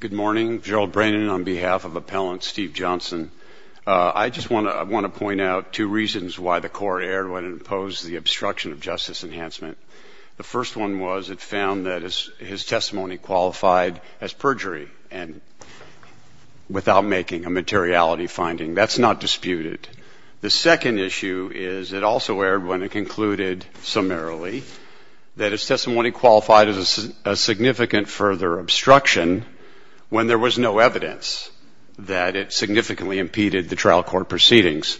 Good morning. Gerald Brannon on behalf of Appellant Steve Johnson. I just want to point out two reasons why the court erred when it imposed the obstruction of justice enhancement. The first one was it found that his testimony qualified as perjury and without making a materiality finding. That's not disputed. The second issue is it also erred when it concluded summarily that his testimony qualified as a significant further obstruction when there was no evidence that it significantly impeded the trial court proceedings.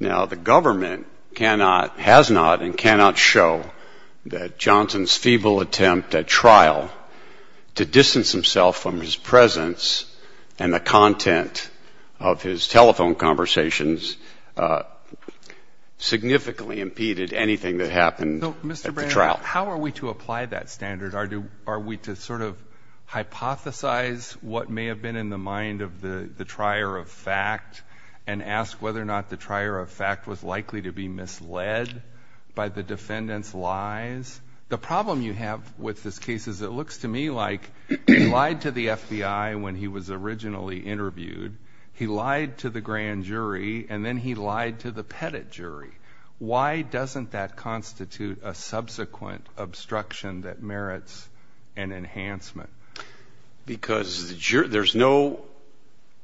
Now, the government cannot, has not and cannot show that Johnson's feeble attempt at trial to distance himself from his presence and the content of his telephone conversations significantly impeded anything that happened at the trial. How are we to apply that standard? Are we to sort of hypothesize what may have been in the mind of the trier of fact and ask whether or not the trier of fact was likely to be misled by the defendant's lies? The problem you have with this case is it looks to me like he lied to the FBI when he was originally interviewed. He lied to the grand jury and then he lied to the pettit jury. Why doesn't that constitute a subsequent obstruction that merits an enhancement? Because there's no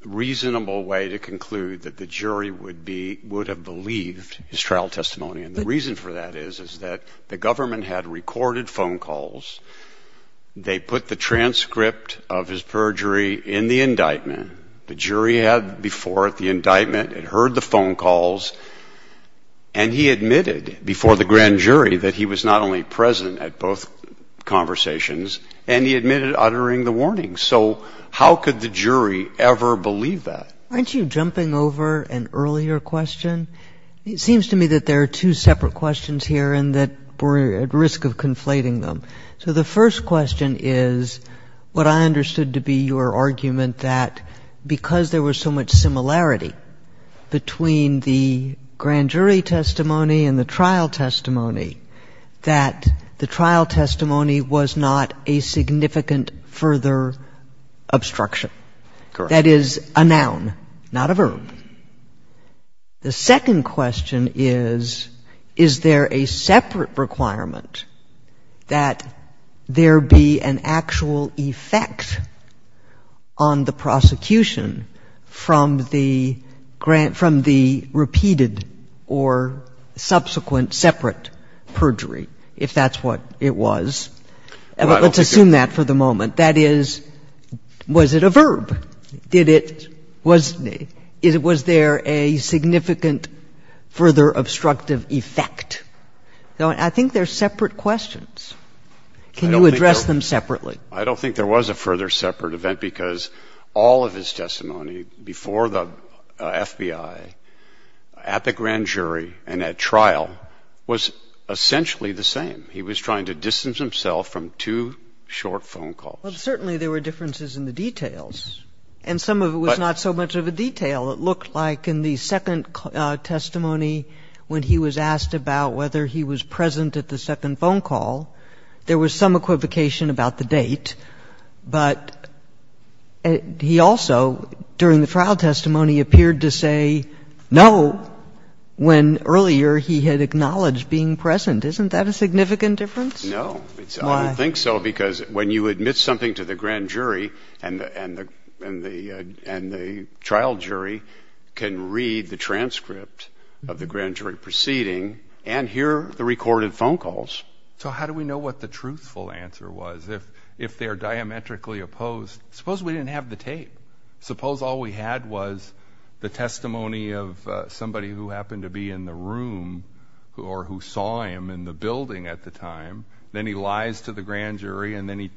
reasonable way to conclude that the jury would be, would have believed his trial testimony. And the reason for that is, is that the government had recorded phone calls. They put the transcript of his perjury in the indictment. The jury had before the indictment and heard the phone calls and he admitted before the grand jury that he was not only present at both conversations and he admitted uttering the warning. So how could the jury ever believe that? Aren't you jumping over an earlier question? It seems to me that there are two separate questions here and that we're at risk of conflating them. So the first question is what I understood to be your argument that because there was so much similarity between the grand jury testimony and the trial testimony, that the trial testimony was not a significant further obstruction. That is a noun, not a verb. The second question is, is there a separate requirement that there be an actual effect on the prosecution from the repeated or subsequent separate perjury, if that's what it was? Let's assume that for the moment. That is, was it a verb? Did it, was there a significant further obstructive effect? I think they're separate questions. Can you address them separately? I don't think there was a further separate event because all of his testimony before the FBI, at the grand jury and at trial was essentially the same. He was trying to distance himself from two short phone calls. Well, certainly there were differences in the details and some of it was not so much of a detail. It looked like in the second testimony when he was asked about whether he was present at the second phone call, there was some equivocation about the date, but he also, during the trial testimony, appeared to say no when earlier he had acknowledged being present. Isn't that a significant difference? No. Why? I don't think so because when you admit something to the grand jury and the trial jury can read the transcript of the grand jury proceeding and hear the recorded phone calls. So how do we know what the truthful answer was? If they're diametrically opposed, suppose we didn't have the tape. Suppose all we had was the testimony of somebody who happened to be in the room or who saw him in the building at the time. Then he lies to the grand jury and then he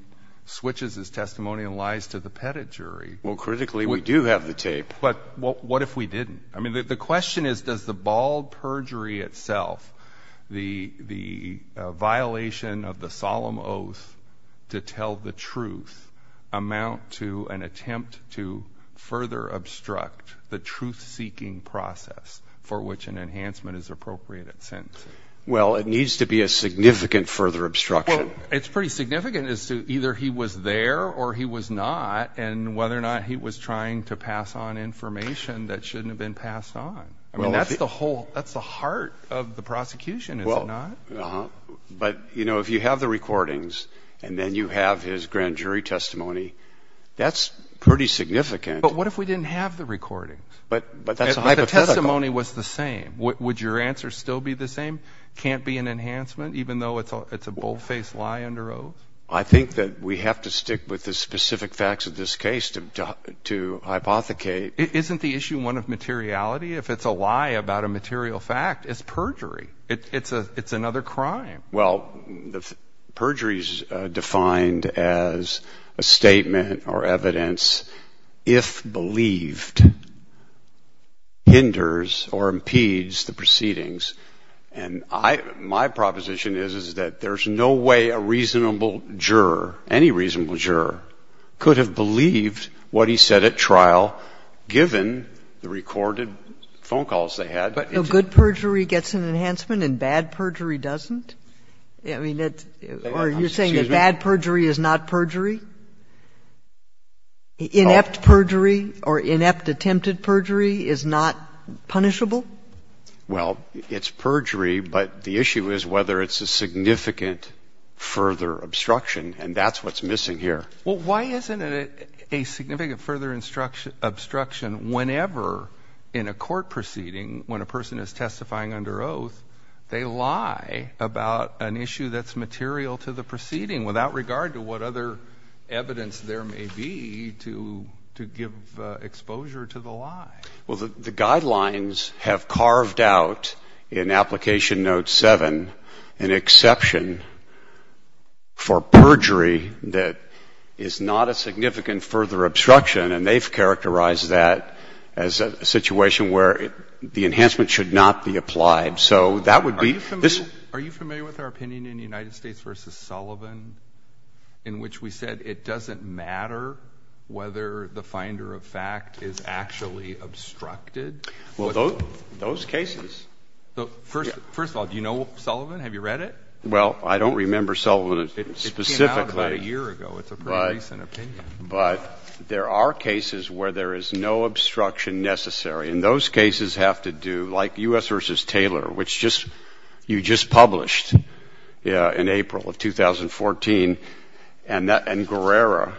switches his testimony and lies to the pettit jury. Well, critically, we do have the tape. But what if we didn't? I mean, the question is, does the bald perjury itself, the violation of the solemn oath to tell the truth, amount to an attempt to further obstruct the truth-seeking process for which an enhancement is appropriate in a sense? Well, it needs to be a significant further obstruction. Well, it's pretty significant as to either he was there or he was not and whether or not he was trying to pass on information that shouldn't have been passed on. I mean, that's the whole, that's the heart of the prosecution, is it not? But, you know, if you have the recordings and then you have his grand jury testimony, that's pretty significant. But what if we didn't have the recordings? But that's a hypothetical. If the testimony was the same, would your answer still be the same? Can't be an enhancement, even though it's a bold-faced lie under oath? I think that we have to stick with the specific facts of this case to hypothecate. Isn't the issue one of materiality? If it's a lie about a material fact, it's perjury. It's another crime. Well, perjury is defined as a statement or evidence, if believed, hinders or impedes the proceedings. And I, my proposition is, is that there's no way a reasonable juror, any reasonable juror, could have believed what he said at trial, given the recorded phone calls they had. But good perjury gets an enhancement and bad perjury doesn't? I mean, that's or you're saying that bad perjury is not perjury? Inept perjury or inept attempted perjury is not punishable? Well, it's perjury, but the issue is whether it's a significant further obstruction, and that's what's missing here. Well, why isn't it a significant further obstruction whenever in a court proceeding, when a person is testifying under oath, they lie about an issue that's material to the proceeding, without regard to what other evidence there may be to give exposure to the lie? Well, the guidelines have carved out in Application Note 7 an exception for perjury that is not a significant further obstruction, and they've characterized that as a situation where the enhancement should not be applied. So that would be this. Are you familiar with our opinion in the United States v. Sullivan in which we said it doesn't matter whether the finder of fact is actually obstructed? Well, those cases. First of all, do you know Sullivan? Have you read it? Well, I don't remember Sullivan specifically. It came out about a year ago. It's a pretty recent opinion. But there are cases where there is no obstruction necessary, and those cases have to do, like U.S. v. Taylor, which you just published in April of 2014, and Guerrera,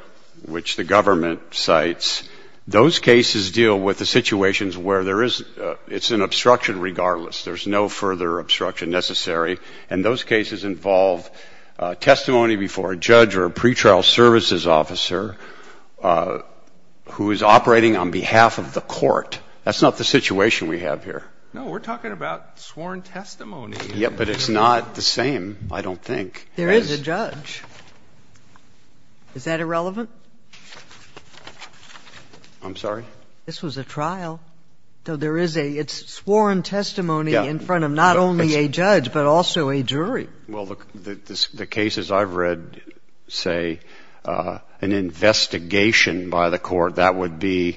which the government cites. Those cases deal with the situations where there is an obstruction regardless. There's no further obstruction necessary, and those cases involve testimony before a judge or a pretrial services officer who is operating on behalf of the court. That's not the situation we have here. No. We're talking about sworn testimony. Yeah, but it's not the same, I don't think. There is a judge. Is that irrelevant? I'm sorry? This was a trial. So there is a ‑‑ it's sworn testimony in front of not only a judge but also a jury. Well, the cases I've read say an investigation by the court. That would be a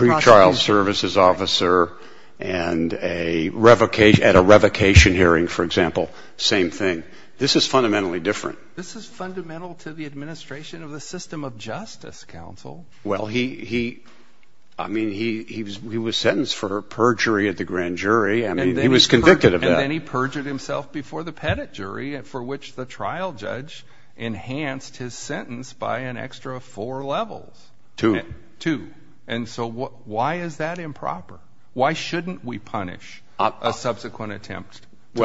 pretrial services officer and a ‑‑ at a revocation hearing, for example. Same thing. This is fundamentally different. This is fundamental to the administration of the system of justice, counsel. Well, he ‑‑ I mean, he was sentenced for perjury at the grand jury. I mean, he was convicted of that. Yeah. And then he perjured himself before the pettit jury, for which the trial judge enhanced his sentence by an extra four levels. Two. Two. And so why is that improper? Why shouldn't we punish a subsequent attempt to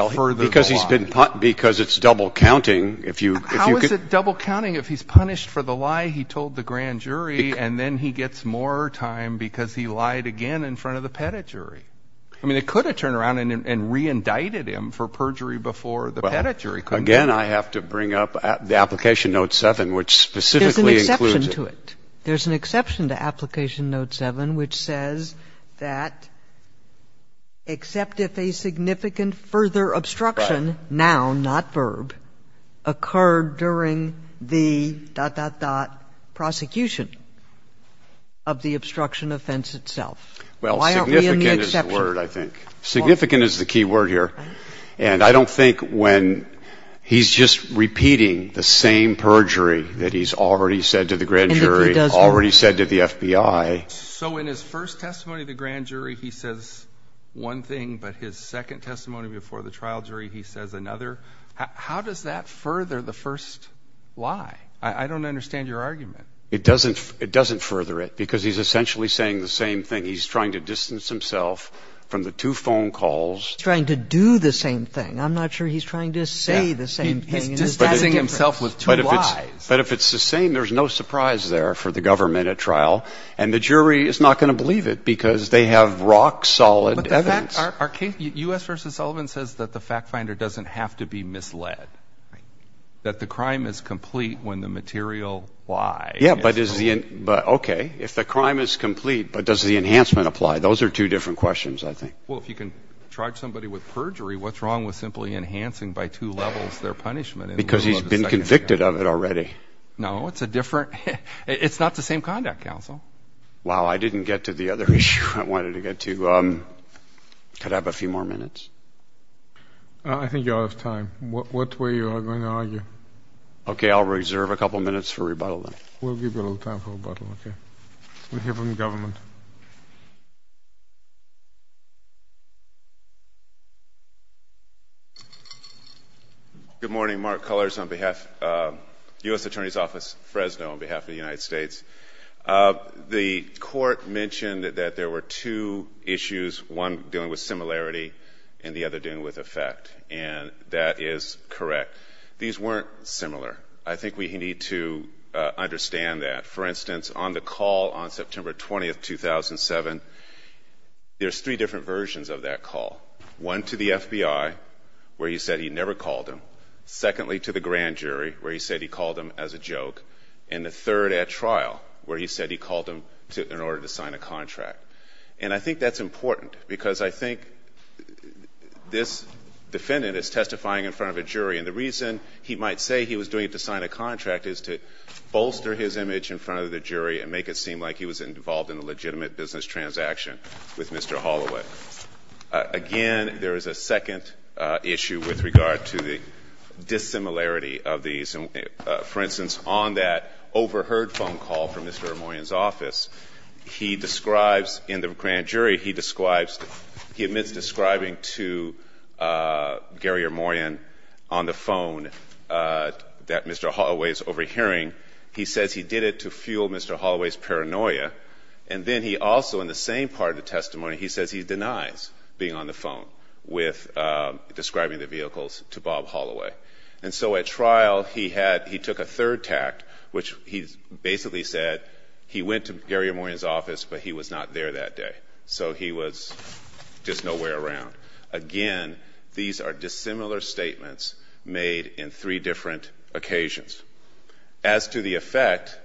further the lie? Because it's double counting. How is it double counting if he's punished for the lie he told the grand jury, and then he gets more time because he lied again in front of the pettit jury? I mean, they could have turned around and reindicted him for perjury before the pettit jury, couldn't they? Again, I have to bring up the application note 7, which specifically includes it. There's an exception to it. There's an exception to application note 7, which says that except if a significant further obstruction, noun, not verb, occurred during the dot, dot, dot, prosecution of the obstruction offense itself. Why aren't we in the exception? Well, significant is the word, I think. Significant is the key word here. And I don't think when he's just repeating the same perjury that he's already said to the grand jury, already said to the FBI. So in his first testimony to the grand jury, he says one thing, but his second testimony before the trial jury, he says another. How does that further the first lie? I don't understand your argument. It doesn't further it because he's essentially saying the same thing. He's trying to distance himself from the two phone calls. He's trying to do the same thing. I'm not sure he's trying to say the same thing. He's distancing himself with two lies. But if it's the same, there's no surprise there for the government at trial. And the jury is not going to believe it because they have rock-solid evidence. But the fact, our case, U.S. v. Sullivan says that the fact finder doesn't have to be misled. Right. But the crime is complete when the material lies. Yeah, but is the – okay. If the crime is complete, but does the enhancement apply? Those are two different questions, I think. Well, if you can charge somebody with perjury, what's wrong with simply enhancing by two levels their punishment in the middle of the second hearing? Because he's been convicted of it already. No, it's a different – it's not the same conduct, counsel. Wow, I didn't get to the other issue I wanted to get to. Could I have a few more minutes? I think you're out of time. Okay. What way you are going to argue? Okay, I'll reserve a couple minutes for rebuttal then. We'll give you a little time for rebuttal, okay. We'll hear from the government. Good morning. Mark Cullors on behalf – U.S. Attorney's Office, Fresno, on behalf of the United States. The court mentioned that there were two issues, one dealing with similarity and the other dealing with effect. And that is correct. These weren't similar. I think we need to understand that. For instance, on the call on September 20, 2007, there's three different versions of that call. One to the FBI, where he said he never called him. Secondly, to the grand jury, where he said he called him as a joke. And the third at trial, where he said he called him in order to sign a contract. And I think that's important because I think this defendant is testifying in front of a jury. And the reason he might say he was doing it to sign a contract is to bolster his image in front of the jury and make it seem like he was involved in a legitimate business transaction with Mr. Holloway. Again, there is a second issue with regard to the dissimilarity of these. And for instance, on that overheard phone call from Mr. O'Morien's office, he describes in the grand jury, he describes, he admits describing to Gary O'Morien on the phone that Mr. Holloway is overhearing. He says he did it to fuel Mr. Holloway's paranoia. And then he also, in the same part of the testimony, he says he denies being on the phone with describing the vehicles to Bob Holloway. And so at trial, he had, he took a third tact, which he basically said he went to Gary O'Morien's office, but he was not there that day. So he was just nowhere around. Again, these are dissimilar statements made in three different occasions. As to the effect,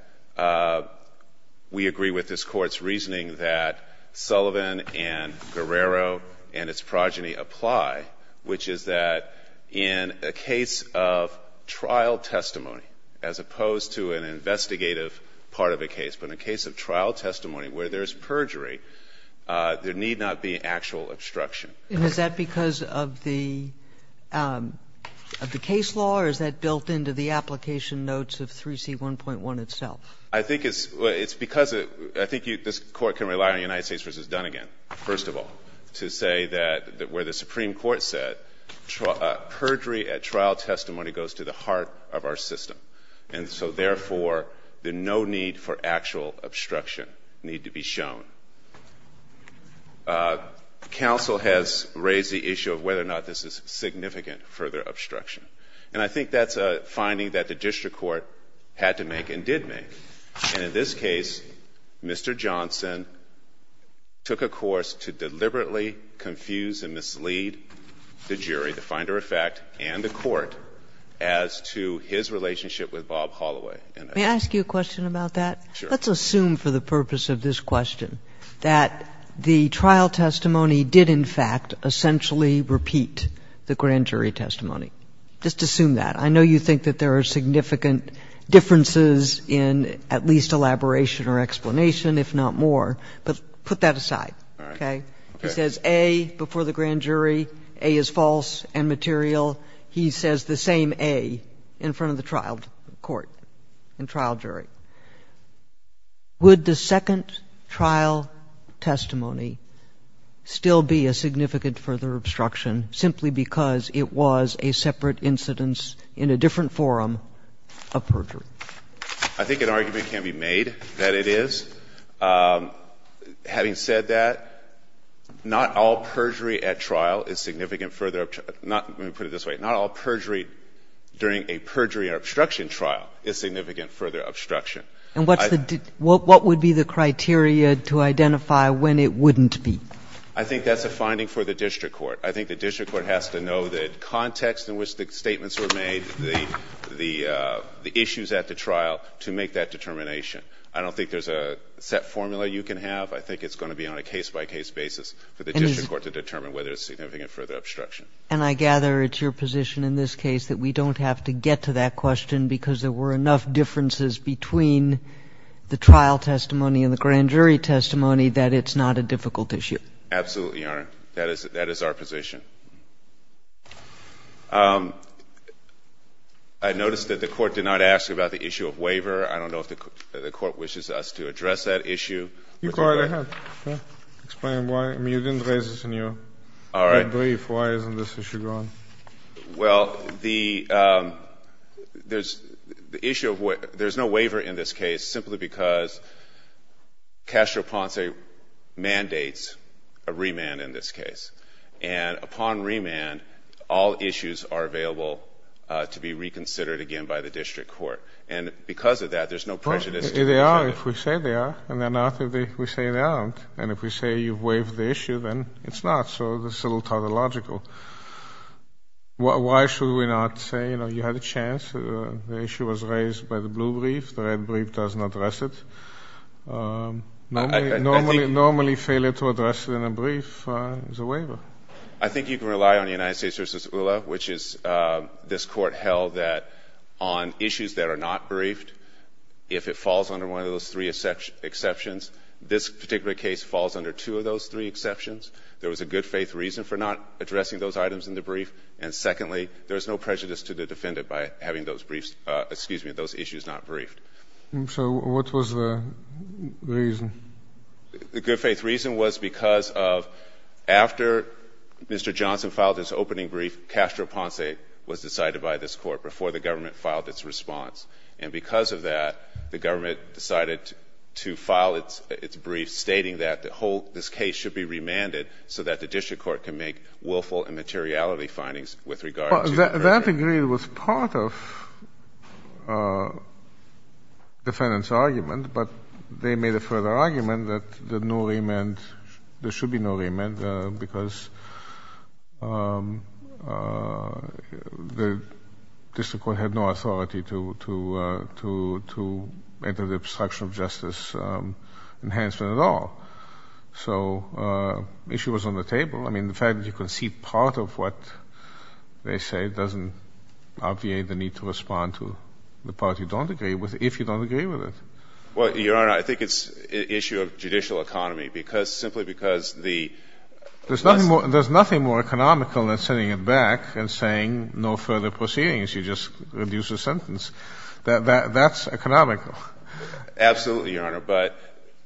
we agree with this Court's reasoning that Sullivan and Guerrero and its progeny apply, which is that in a case of trial testimony, as opposed to an investigative part of a case, but in a case of trial testimony where there is perjury, there need not be actual obstruction. And is that because of the case law, or is that built into the application notes of 3C1.1 itself? I think it's because of, I think this Court can rely on United States v. Dunnegan, first of all, to say that where the Supreme Court said, perjury at trial testimony goes to the heart of our system. And so therefore, the no need for actual obstruction need to be shown. Counsel has raised the issue of whether or not this is significant further obstruction. And I think that's a finding that the district court had to make and did make. And in this case, Mr. Johnson took a course to deliberately confuse and mislead the jury, the finder of fact, and the Court, as to his relationship with Bob Holloway. And I think that's important. Kagan. May I ask you a question about that? Sure. Let's assume for the purpose of this question that the trial testimony did, in fact, essentially repeat the grand jury testimony. Just assume that. I know you think that there are significant differences in at least elaboration or explanation, if not more, but put that aside. All right. Okay. He says, A, before the grand jury, A is false and material. He says the same A in front of the trial court and trial jury. Would the second trial testimony still be a significant further obstruction simply because it was a separate incidence in a different forum of perjury? I think an argument can be made that it is. Having said that, not all perjury at trial is significant further – let me put it this way. Not all perjury during a perjury or obstruction trial is significant further obstruction. And what's the – what would be the criteria to identify when it wouldn't be? I think that's a finding for the district court. I think the district court has to know the context in which the statements were made, the issues at the trial, to make that determination. I don't think there's a set formula you can have. I think it's going to be on a case-by-case basis for the district court to determine whether it's significant further obstruction. And I gather it's your position in this case that we don't have to get to that question because there were enough differences between the trial testimony and the grand jury testimony that it's not a difficult issue. Absolutely, Your Honor. That is our position. I noticed that the court did not ask about the issue of waiver. I don't know if the court wishes us to address that issue. You go right ahead. Explain why. I mean, you didn't raise this in your brief. Why isn't this issue going? Well, the issue of – there's no waiver in this case simply because Castro Ponce mandates a remand in this case. And upon remand, all issues are available to be reconsidered again by the district court. And because of that, there's no prejudice. They are if we say they are, and they're not if we say they aren't. And if we say you've waived the issue, then it's not. So this is a little tautological. Why should we not say, you know, you had a chance, the issue was raised by the blue brief, the red brief doesn't address it. Normally failure to address it in a brief is a waiver. I think you can rely on the United States v. ULA, which is this court held that on issues that are not briefed, if it falls under one of those three exceptions, this particular case falls under two of those three exceptions. There was a good faith reason for not addressing those items in the brief. And secondly, there's no prejudice to the defendant by having those issues not briefed. So what was the reason? The good faith reason was because of after Mr. Johnson filed his opening brief, Castro Ponce was decided by this court before the government filed its response. And because of that, the government decided to file its brief, stating that this case should be remanded so that the district court can make willful and materiality findings with regard to the verdict. Well, that agreement was part of the defendant's argument, but they made a further argument that there should be no remand because the district court had no authority to enter the obstruction of justice enhancement at all. So the issue was on the table. I mean, the fact that you concede part of what they say doesn't obviate the need to respond to the part you don't agree with, if you don't agree with it. Well, Your Honor, I think it's an issue of judicial economy, because simply because the lesson of the case is that there's no further proceedings. There's nothing more economical than sending it back and saying no further proceedings. You just reduce the sentence. That's economical. Absolutely, Your Honor. But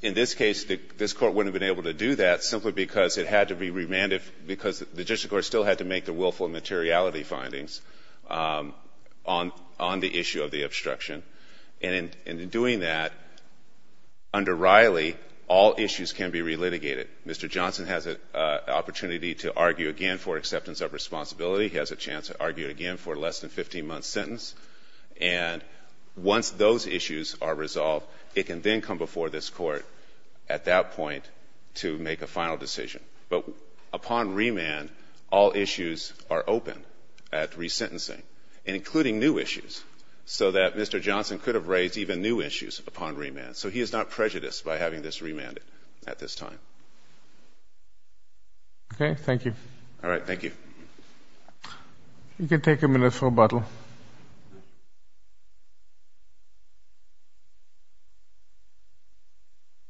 in this case, this court wouldn't have been able to do that simply because it had to be remanded because the district court still had to make the willful and materiality findings on the issue of the obstruction. And in doing that, under Riley, all issues can be relitigated. Mr. Johnson has an opportunity to argue again for acceptance of responsibility. He has a chance to argue again for a less than 15-month sentence. And once those issues are resolved, it can then come before this Court at that point to make a final decision. But upon remand, all issues are open at resentencing, including new issues, so that Mr. Johnson could have raised even new issues upon remand. So he is not prejudiced by having this remanded at this time. Okay, thank you. All right, thank you. You can take a minute for rebuttal.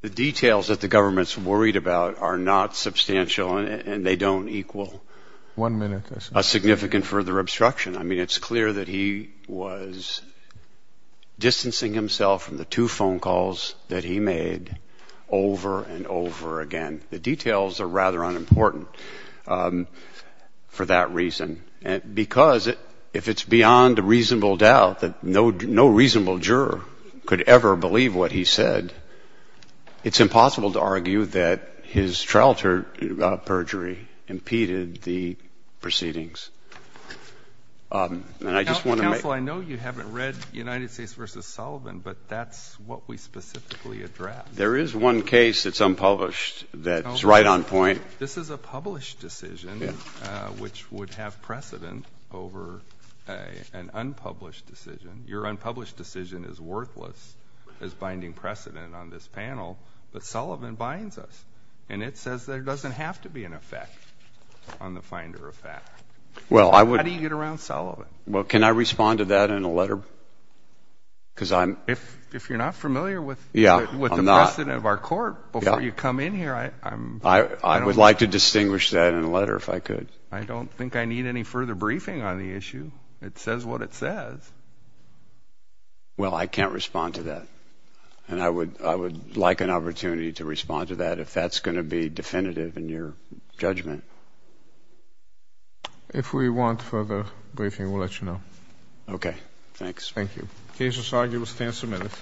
The details that the government is worried about are not substantial, and they don't equal a significant further obstruction. I mean, it's clear that he was distancing himself from the two phone calls that he made over and over again. The details are rather unimportant for that reason, because if it's beyond a reasonable doubt that no reasonable juror could ever believe what he said, it's impossible to argue that his trial perjury impeded the proceedings. And I just want to make — Counsel, I know you haven't read United States v. Sullivan, but that's what we specifically addressed. There is one case that's unpublished that's right on point. This is a published decision, which would have precedent over an unpublished decision. Your unpublished decision is worthless as binding precedent on this panel. But Sullivan binds us, and it says there doesn't have to be an effect on the finder of fact. How do you get around Sullivan? Well, can I respond to that in a letter? Because I'm — If you're not familiar with the precedent of our court, before you come in here, I'm — I would like to distinguish that in a letter, if I could. I don't think I need any further briefing on the issue. It says what it says. Well, I can't respond to that. And I would like an opportunity to respond to that, if that's going to be definitive in your judgment. If we want further briefing, we'll let you know. Okay. Thanks. Thank you. The case is argued and stands submitted.